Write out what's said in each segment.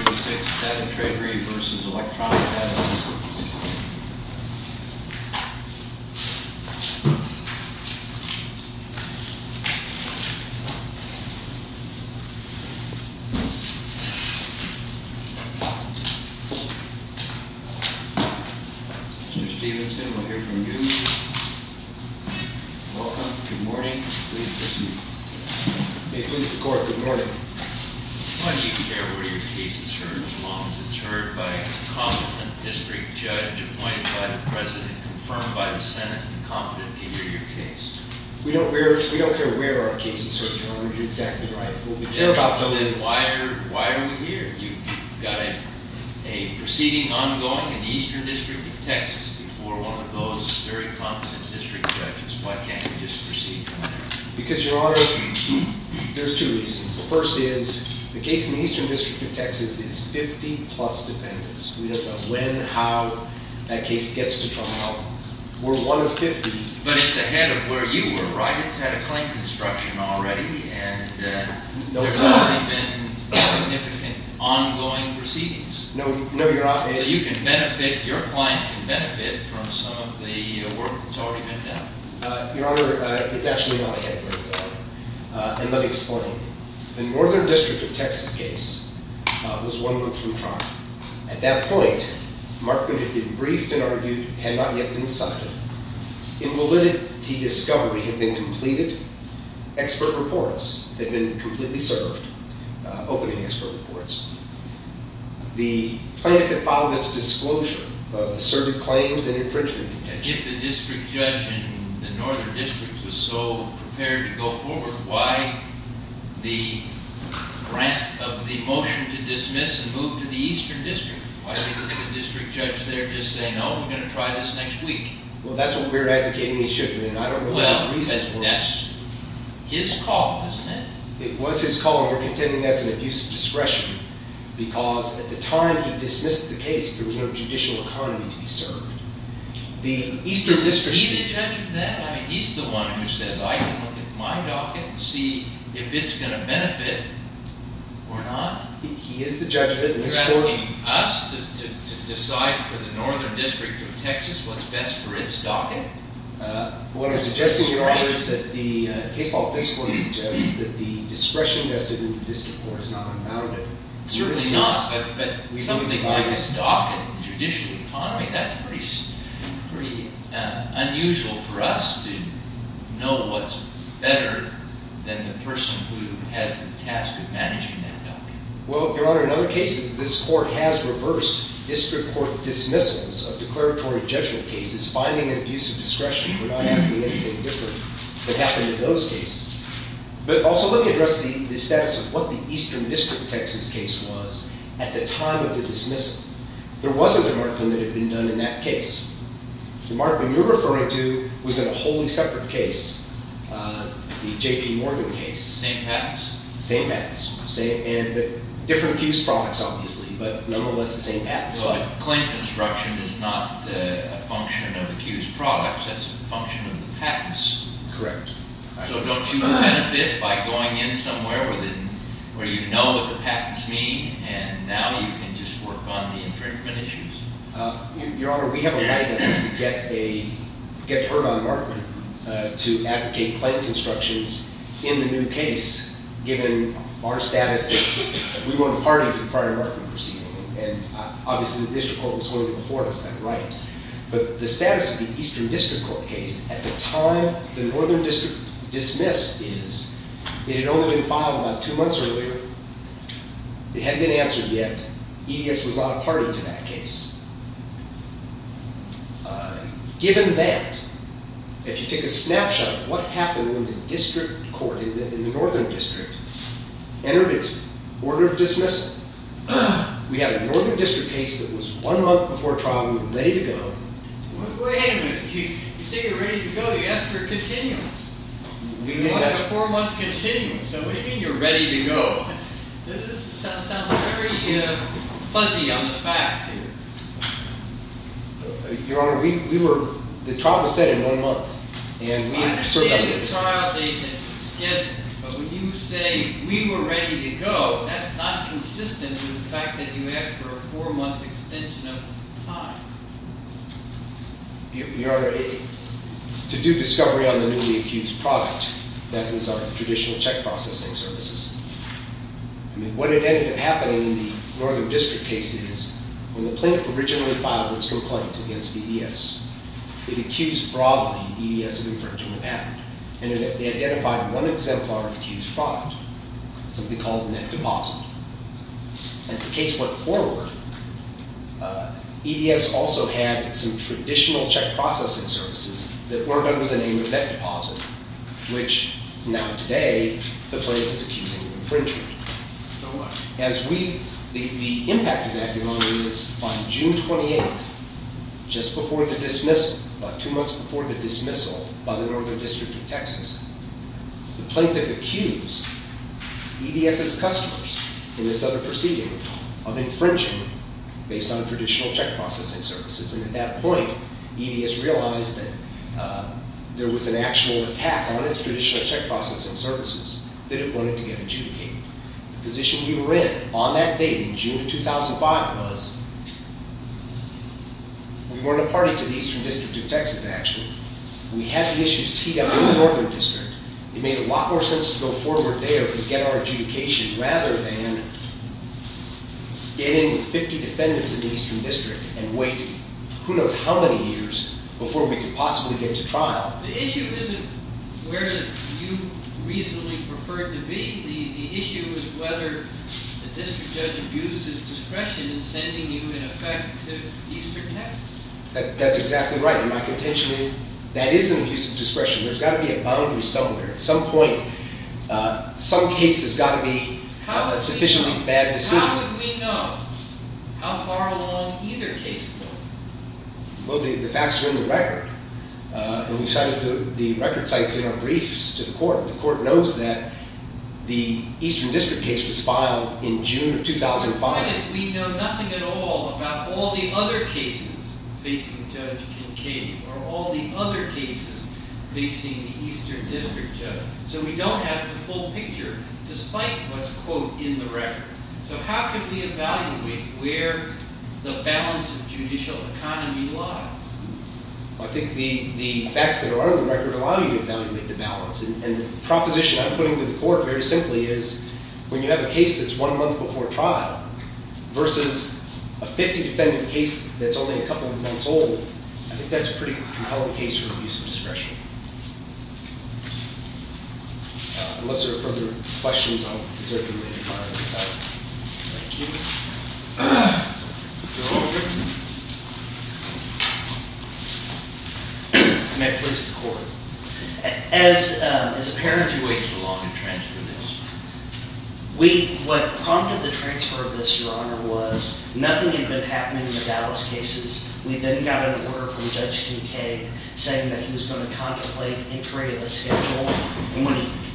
6, Data Treasury v. Electronic Data Systems. Mr. Stephenson, we'll hear from you. Welcome. Good morning. Please proceed. May it please the Court, good morning. Why do you care where your case is heard as long as it's heard by a competent district judge appointed by the President, confirmed by the Senate, and confident to hear your case? We don't care where our case is heard, Your Honor. You're exactly right. Why are we here? You've got a proceeding ongoing in the Eastern District of Texas before one of those very competent district judges. Why can't we just proceed from there? Because, Your Honor, there's two reasons. The first is, the case in the Eastern District of Texas is 50-plus defendants. We don't know when, how that case gets to trial. We're one of 50. But it's ahead of where you were, right? It's had a claim construction already, and there's already been significant ongoing proceedings. No, Your Honor. So you can benefit, your client can benefit from some of the work that's already been done. Your Honor, it's actually not ahead of where you are, and let me explain. The Northern District of Texas case was one month from trial. At that point, Markman had been briefed and argued, had not yet been cited. In validity discovery had been completed, expert reports had been completely served, opening expert reports. The plaintiff had filed its disclosure of asserted claims and infringement contention. If the district judge in the Northern District was so prepared to go forward, why the grant of the motion to dismiss and move to the Eastern District? Why didn't the district judge there just say, no, we're going to try this next week? Well, that's what we're advocating he should have been. I don't know why his reasons weren't... Well, that's his call, isn't it? It was his call, and we're contending that's an abuse of discretion, because at the time he dismissed the case, there was no judicial economy to be served. Was he the judge of that? I mean, he's the one who says, I can look at my docket and see if it's going to benefit or not. He is the judge of it. You're asking us to decide for the Northern District of Texas what's best for its docket? What I'm suggesting, Your Honor, is that the case law of this court suggests that the discretion vested in the district court is not unbounded. Certainly not, but something like this docket, judicial economy, that's pretty unusual for us to know what's better than the person who has the task of managing that docket. Well, Your Honor, in other cases, this court has reversed district court dismissals of declaratory judgment cases. Finding an abuse of discretion, we're not asking anything different that happened in those cases. But also, let me address the status of what the Eastern District of Texas case was at the time of the dismissal. There wasn't a markdown that had been done in that case. The markdown you're referring to was in a wholly separate case, the J.P. Morgan case. The same patents? The same patents. Different accused products, obviously, but nonetheless the same patents. But the claim construction is not a function of the accused products, that's a function of the patents. Correct. You benefit by going in somewhere where you know what the patents mean, and now you can just work on the infringement issues. Your Honor, we have a right, I think, to get heard on a markdown, to advocate claim constructions in the new case, given our status that we weren't party to the prior markdown proceeding. And obviously the District Court was going to be before us, that right. But the status of the Eastern District Court case at the time the Northern District dismissed is, it had only been filed about two months earlier, it hadn't been answered yet, EDS was not a party to that case. Given that, if you take a snapshot of what happened when the District Court in the Northern District entered its order of dismissal, we had a Northern District case that was one month before trial and we were ready to go. Wait a minute, you say you're ready to go, you asked for a continuance. You wanted a four month continuance, so what do you mean you're ready to go? This sounds very fuzzy on the facts here. Your Honor, we were, the trial was set in one month. I understand the trial date that you scheduled, but when you say we were ready to go, that's not consistent with the fact that you asked for a four month extension of time. Your Honor, to do discovery on the newly accused product, that was our traditional check processing services. I mean, what ended up happening in the Northern District case is, when the plaintiff originally filed its complaint against EDS, it accused broadly EDS of infringing the patent. And it identified one exemplar of accused product, something called net deposit. As the case went forward, EDS also had some traditional check processing services that weren't under the name of net deposit, which now today, the plaintiff is accusing of infringement. The impact of that, Your Honor, is by June 28th, just before the dismissal, about two months before the dismissal by the Northern District of Texas, the plaintiff accused EDS' customers in this other proceeding of infringing based on traditional check processing services. And at that point, EDS realized that there was an actual attack on its traditional check processing services that it wanted to get adjudicated. The position we were in on that date in June of 2005 was, we weren't a party to the Eastern District of Texas, actually. We had the issues teed up in the Northern District. It made a lot more sense to go forward there and get our adjudication rather than get in with 50 defendants in the Eastern District and wait who knows how many years before we could possibly get to trial. The issue isn't where you reasonably preferred to be. The issue is whether the district judge abused his discretion in sending you, in effect, to Eastern Texas. That's exactly right, and my contention is, that is an abuse of discretion. There's got to be a boundary somewhere. At some point, some case has got to be a sufficiently bad decision. How would we know how far along either case was? Well, the facts are in the record. We cited the record sites in our briefs to the court. The court knows that the Eastern District case was filed in June of 2005. The point is, we know nothing at all about all the other cases facing Judge Kincaid, or all the other cases facing the Eastern District judge. So we don't have the full picture, despite what's, quote, in the record. So how can we evaluate where the balance of judicial economy lies? Well, I think the facts that are in the record allow you to evaluate the balance. The proposition I'm putting to the court, very simply, is when you have a case that's one month before trial, versus a 50 defendant case that's only a couple of months old, I think that's a pretty compelling case for abuse of discretion. Okay. Unless there are further questions, I'll reserve the remaining time. Thank you. May I please have the floor? As a parent, Why did you waste so long to transfer this? We, what prompted the transfer of this, Your Honor, was nothing had been happening in the Dallas cases. We then got an order from Judge Kincaid saying that he was going to contemplate entry of the schedule. And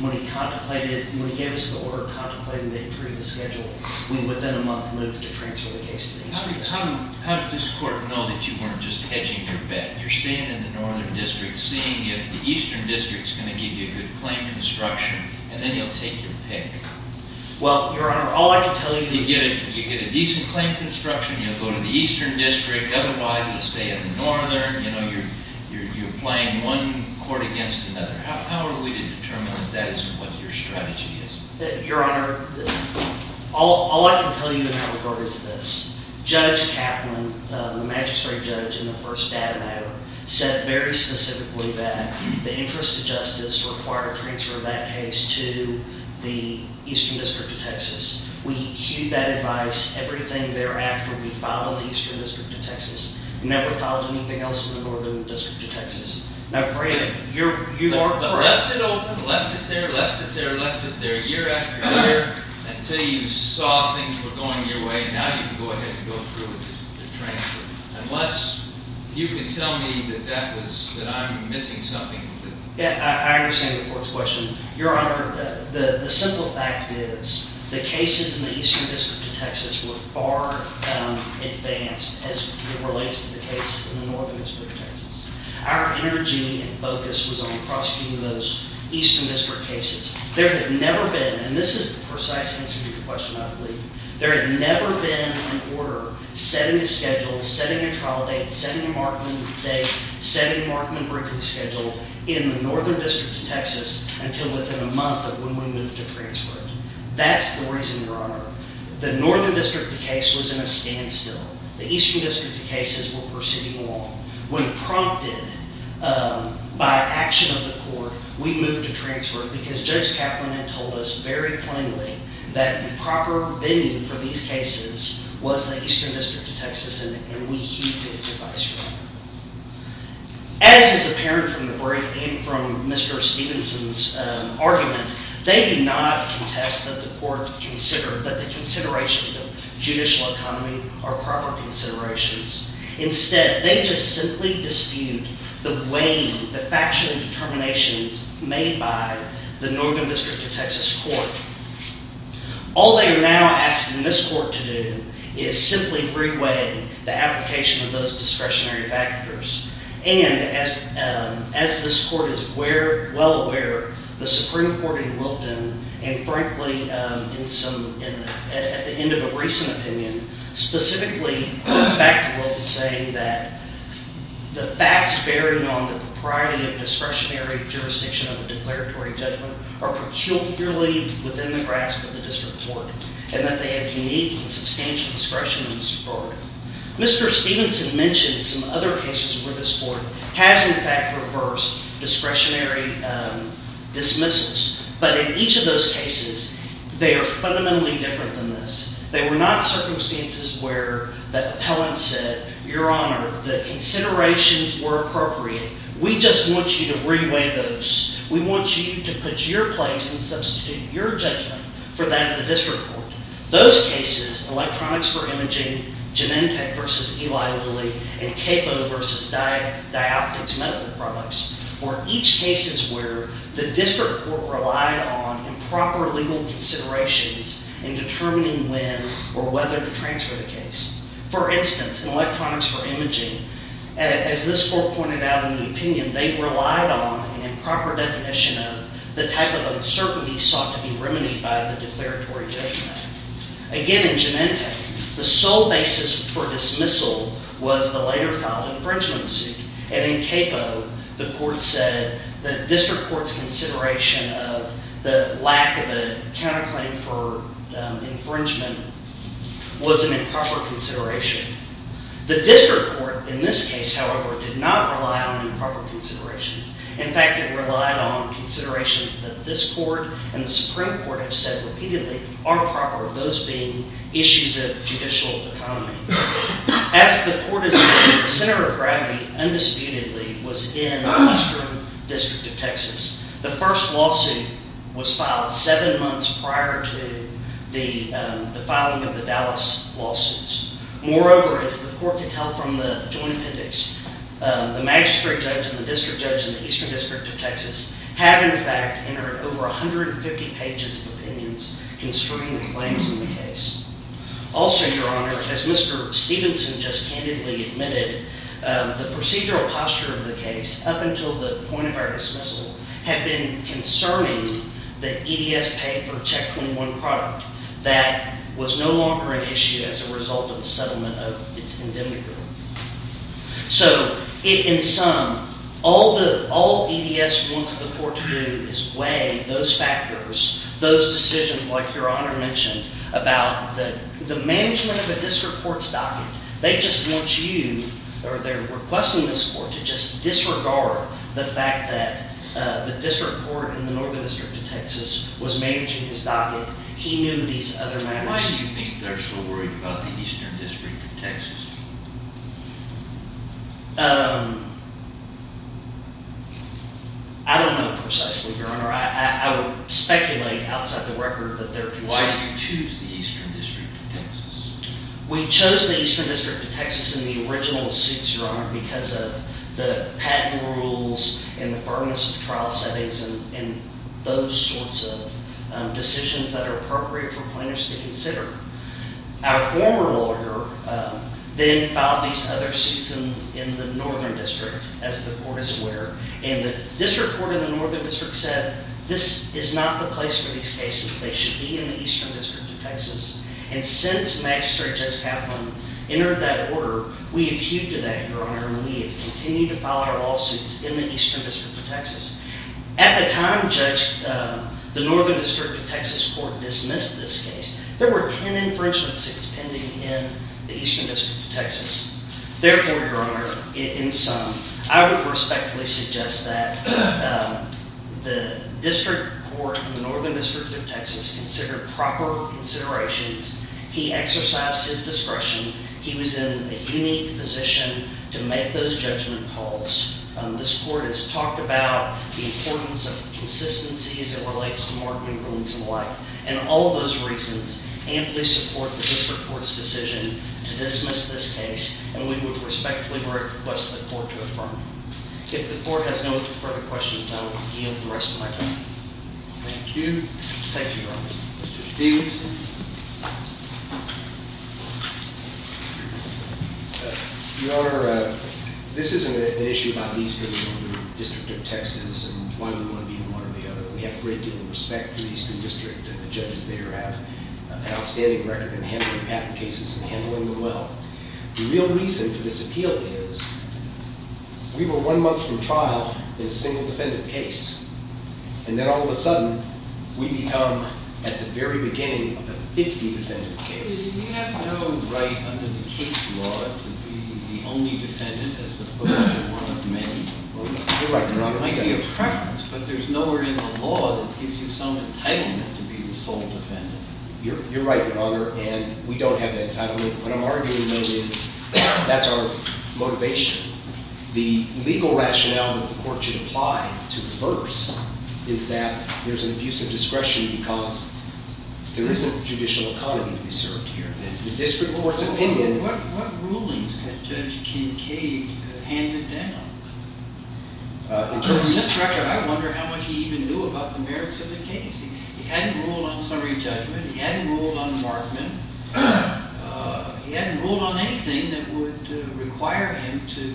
when he contemplated, when he gave us the order contemplating the entry of the schedule, we, within a month, moved to transfer the case to the Eastern District. How does this court know that you weren't just hedging your bet? You're staying in the Northern District, seeing if the Eastern District's going to give you a good claim construction, and then you'll take your pick. Well, Your Honor, all I can tell you, you get a decent claim construction, you'll go to the Eastern District, otherwise you'll stay in the Northern. You know, you're playing one court against another. How are we to determine that that isn't what your strategy is? Your Honor, all I can tell you in that regard is this. Judge Kaplan, the magistrate judge in the first data matter, said very specifically that the interest of justice required a transfer of that case to the Eastern District of Texas. We heeded that advice everything thereafter we filed in the Eastern District of Texas. We never filed anything else in the Northern District of Texas. Now, Greg, you are correct. But left it open, left it there, left it there, left it there, year after year, until you saw things were going your way, now you can go ahead and go through with the transfer. Unless you can tell me that that was, that I'm missing something. Yeah, I understand the court's question. Your Honor, the simple fact is, the cases in the Eastern District of Texas were far advanced as it relates to the case in the Northern District of Texas. Our energy and focus was on prosecuting those Eastern District cases. There had never been, and this is the precise answer to your question, I believe, there had never been an order setting a schedule, setting a trial date, setting a markman date, setting a schedule in the Northern District of Texas until within a month of when we moved to transfer it. That's the reason, Your Honor, the Northern District case was in a standstill. The Eastern District cases were proceeding along. When prompted by action of the court, we moved to transfer it because Judge Kaplan had told us very plainly that the proper venue for these cases was the Eastern District of Texas and we heeded his advice. As is apparent from the brief and from Mr. Stevenson's argument, they do not contest that the court consider that the considerations of judicial economy are proper considerations. Instead, they just simply dispute the weighing, the factual determinations made by the Northern District of Texas Court. All they are now asking this court to do is simply re-weigh the application of those discretionary factors. And as this court is well aware, the Supreme Court in Wilton, and frankly, at the end of a recent opinion, specifically goes back to Wilton saying that the facts bearing on the propriety of discretionary jurisdiction of a declaratory judgment are peculiarly within the grasp of the district court and that they have unique and substantial discretion in this court. Mr. Stevenson mentioned some other cases where this court has, in fact, reversed discretionary dismissals. But in each of those cases, they are fundamentally different than this. They were not circumstances where the appellant said, Your Honor, the considerations were appropriate. We just want you to re-weigh those. We want you to put your place and substitute your judgment for that of the district court. Those cases, Electronics for Imaging, Genentech v. Eli Lilly, and Capo v. Dioptics Medical Products, were each cases where the district court relied on improper legal considerations in determining when or whether to transfer the case. For instance, in Electronics for Imaging, as this court pointed out in the opinion, they relied on an improper definition of the type of uncertainty sought to be remedied by the declaratory judgment. Again, in Genentech, the sole basis for dismissal was the later-filed infringement suit. And in Capo, the court said the district court's consideration of the lack of a counterclaim for infringement was an improper consideration. The district court, in this case, however, did not rely on improper considerations. In fact, it relied on considerations that this court and the Supreme Court have said repeatedly are improper, those being issues of judicial economy. As the court has said, the center of gravity, undisputedly, was in the Western District of Texas. The first lawsuit was filed seven months prior to the filing of the Dallas lawsuits. Moreover, as the court could tell from the joint appendix, the magistrate judge and the district judge in the Eastern District of Texas have, in fact, entered over 150 pages of opinions concerning the claims in the case. Also, Your Honor, as Mr. Stevenson just candidly admitted, the procedural posture of the case up until the point of our dismissal had been concerning the EDS pay for Check 21 product that was no longer an issue as a result of the settlement of its indemnity bill. So, in sum, all EDS wants the court to do is weigh those factors, those decisions, like Your Honor mentioned, about the management of a district court's docket. They just want you, or they're requesting this court, to just disregard the fact that the district court in the Northern District of Texas was managing his docket. He knew these other matters. Why do you think they're so worried about the Eastern District of Texas? I don't know precisely, Your Honor. I would speculate, outside the record, that they're concerned. Why did you choose the Eastern District of Texas? We chose the Eastern District of Texas in the original suits, Your Honor, because of the patent rules and the firmness of trial settings and those sorts of decisions that are appropriate for plaintiffs to consider. Our former lawyer then filed these other suits in the Northern District, as the court is aware, and the district court in the Northern District said this is not the place for these cases. They should be in the Eastern District of Texas. And since Magistrate Judge Kaplan entered that order, we have hewed to that, Your Honor, and we have continued to file our lawsuits in the Eastern District of Texas. At the time the Northern District of Texas court dismissed this case, there were 10 infringement suits pending in the Eastern District of Texas. Therefore, Your Honor, in sum, I would respectfully suggest that the district court in the Northern District of Texas consider proper considerations. He exercised his discretion. He was in a unique position to make those judgment calls. This court has talked about the importance of consistency as it relates to marketing rulings and the like. And all those reasons amply support the district court's decision to dismiss this case, and we would respectfully request the court to affirm it. If the court has no further questions, I will yield the rest of my time. Thank you. Mr. Stephenson. Your Honor, this isn't an issue about the Eastern District of Texas and why we want to be in one or the other. We have a great deal of respect for the Eastern District, and the judges there have an outstanding record in handling patent cases and handling them well. The real reason for this appeal is we were one month from trial in a single defendant case, and then all of a sudden we become at the very beginning of a 50-defendant case. We have no right under the case law to be the only defendant as opposed to one of many. You're right, Your Honor. It might be a preference, but there's nowhere in the law that gives you some entitlement to be the sole defendant. You're right, Your Honor, and we don't have that entitlement. What I'm arguing, though, is that's our motivation. The legal rationale that the court should apply to reverse is that there's an abuse of discretion because there isn't judicial autonomy to be served here. The district court's opinion... What rulings had Judge Kincaid handed down? In terms of this record, I wonder how much he even knew about the merits of the case. He hadn't ruled on summary judgment. He hadn't ruled on the Markman. to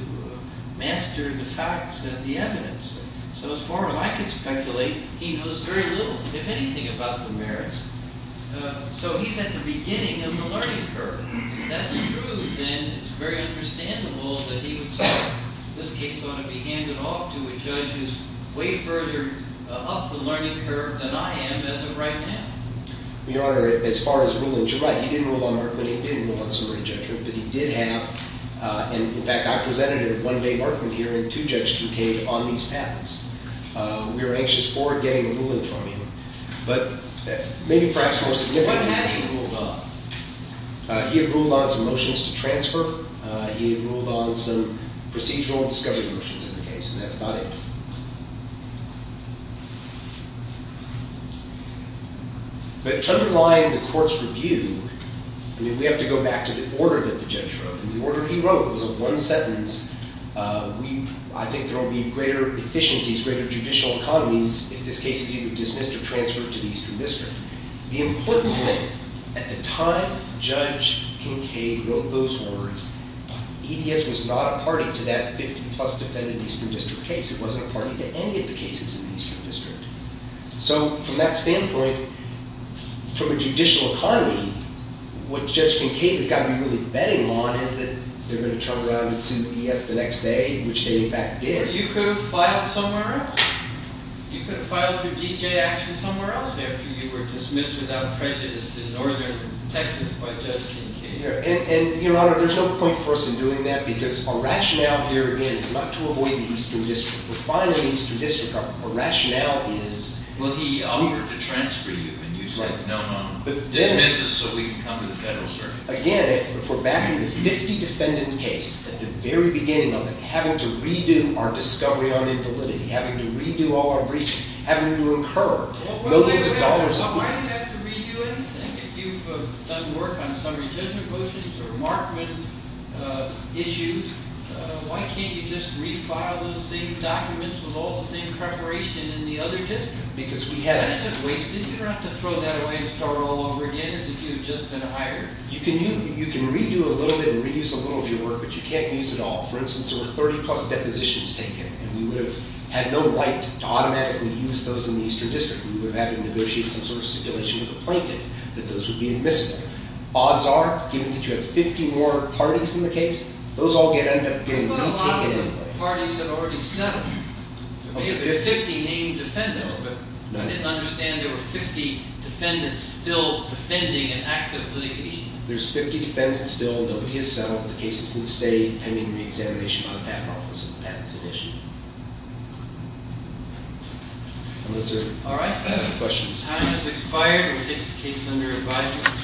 master the facts and the evidence. So as far as I can speculate, he knows very little, if anything, about the merits. So he's at the beginning of the learning curve. If that's true, then it's very understandable that he would say this case ought to be handed off to a judge who's way further up the learning curve than I am as of right now. Your Honor, as far as ruling... You're right, he did rule on Markman. He did rule on summary judgment, but he did have... In fact, I presented a one-day Markman hearing to Judge Kincaid on these facts. We were anxious forward getting a ruling from him, but maybe perhaps more significantly... What had he ruled on? He had ruled on some motions to transfer. He had ruled on some procedural discovery motions in the case, and that's not it. But to underline the court's review, I mean, we have to go back to the order that the judge wrote. And the order he wrote was a one-sentence, I think there will be greater efficiencies, greater judicial economies if this case is either dismissed or transferred to the Eastern District. The important thing, at the time Judge Kincaid wrote those words, EDS was not a party to that 50-plus defendant Eastern District case. It wasn't a party to any of the cases in the Eastern District. So from that standpoint, from a judicial economy, what Judge Kincaid has got to be really betting on is that they're going to turn around and do this the next day, which they in fact did. But you could have filed somewhere else. You could have filed your D.J. action somewhere else after you were dismissed without prejudice to Northern Texas by Judge Kincaid. And, Your Honor, there's no point for us in doing that because our rationale here, again, is not to avoid the Eastern District. We're fine in the Eastern District. Our rationale is... Well, he offered to transfer you, and you said no, no, no, dismiss us so we can come to the Federal Circuit. Again, if we're back in the 50-defendant case at the very beginning of it, having to redo our discovery on invalidity, having to redo all our breaching, having to incur millions of dollars... Well, wait a minute. Why do you have to redo anything if you've done work on some of your judgment motions or remarkment issues? Why can't you just refile those same documents with all the same preparation in the other district? Because we had a... That's a waste. Didn't you have to throw that away and start all over again as if you had just been hired? You can redo a little bit and reuse a little of your work, but you can't use it all. For instance, there were 30-plus depositions taken, and we would have had no right to automatically use those in the Eastern District. We would have had to negotiate some sort of stipulation with the plaintiff that those would be admissible. Odds are, given that you have 50 more parties in the case, those all end up getting retaken anyway. But what about all the parties that already settled? Are there 50 defendants still defending an active litigation? There's 50 defendants still. Nobody has settled. The cases can stay, depending on the examination by the Patent Office and the patents at issue. Unless there are questions. All right. Time has expired, and we take the case under advisory.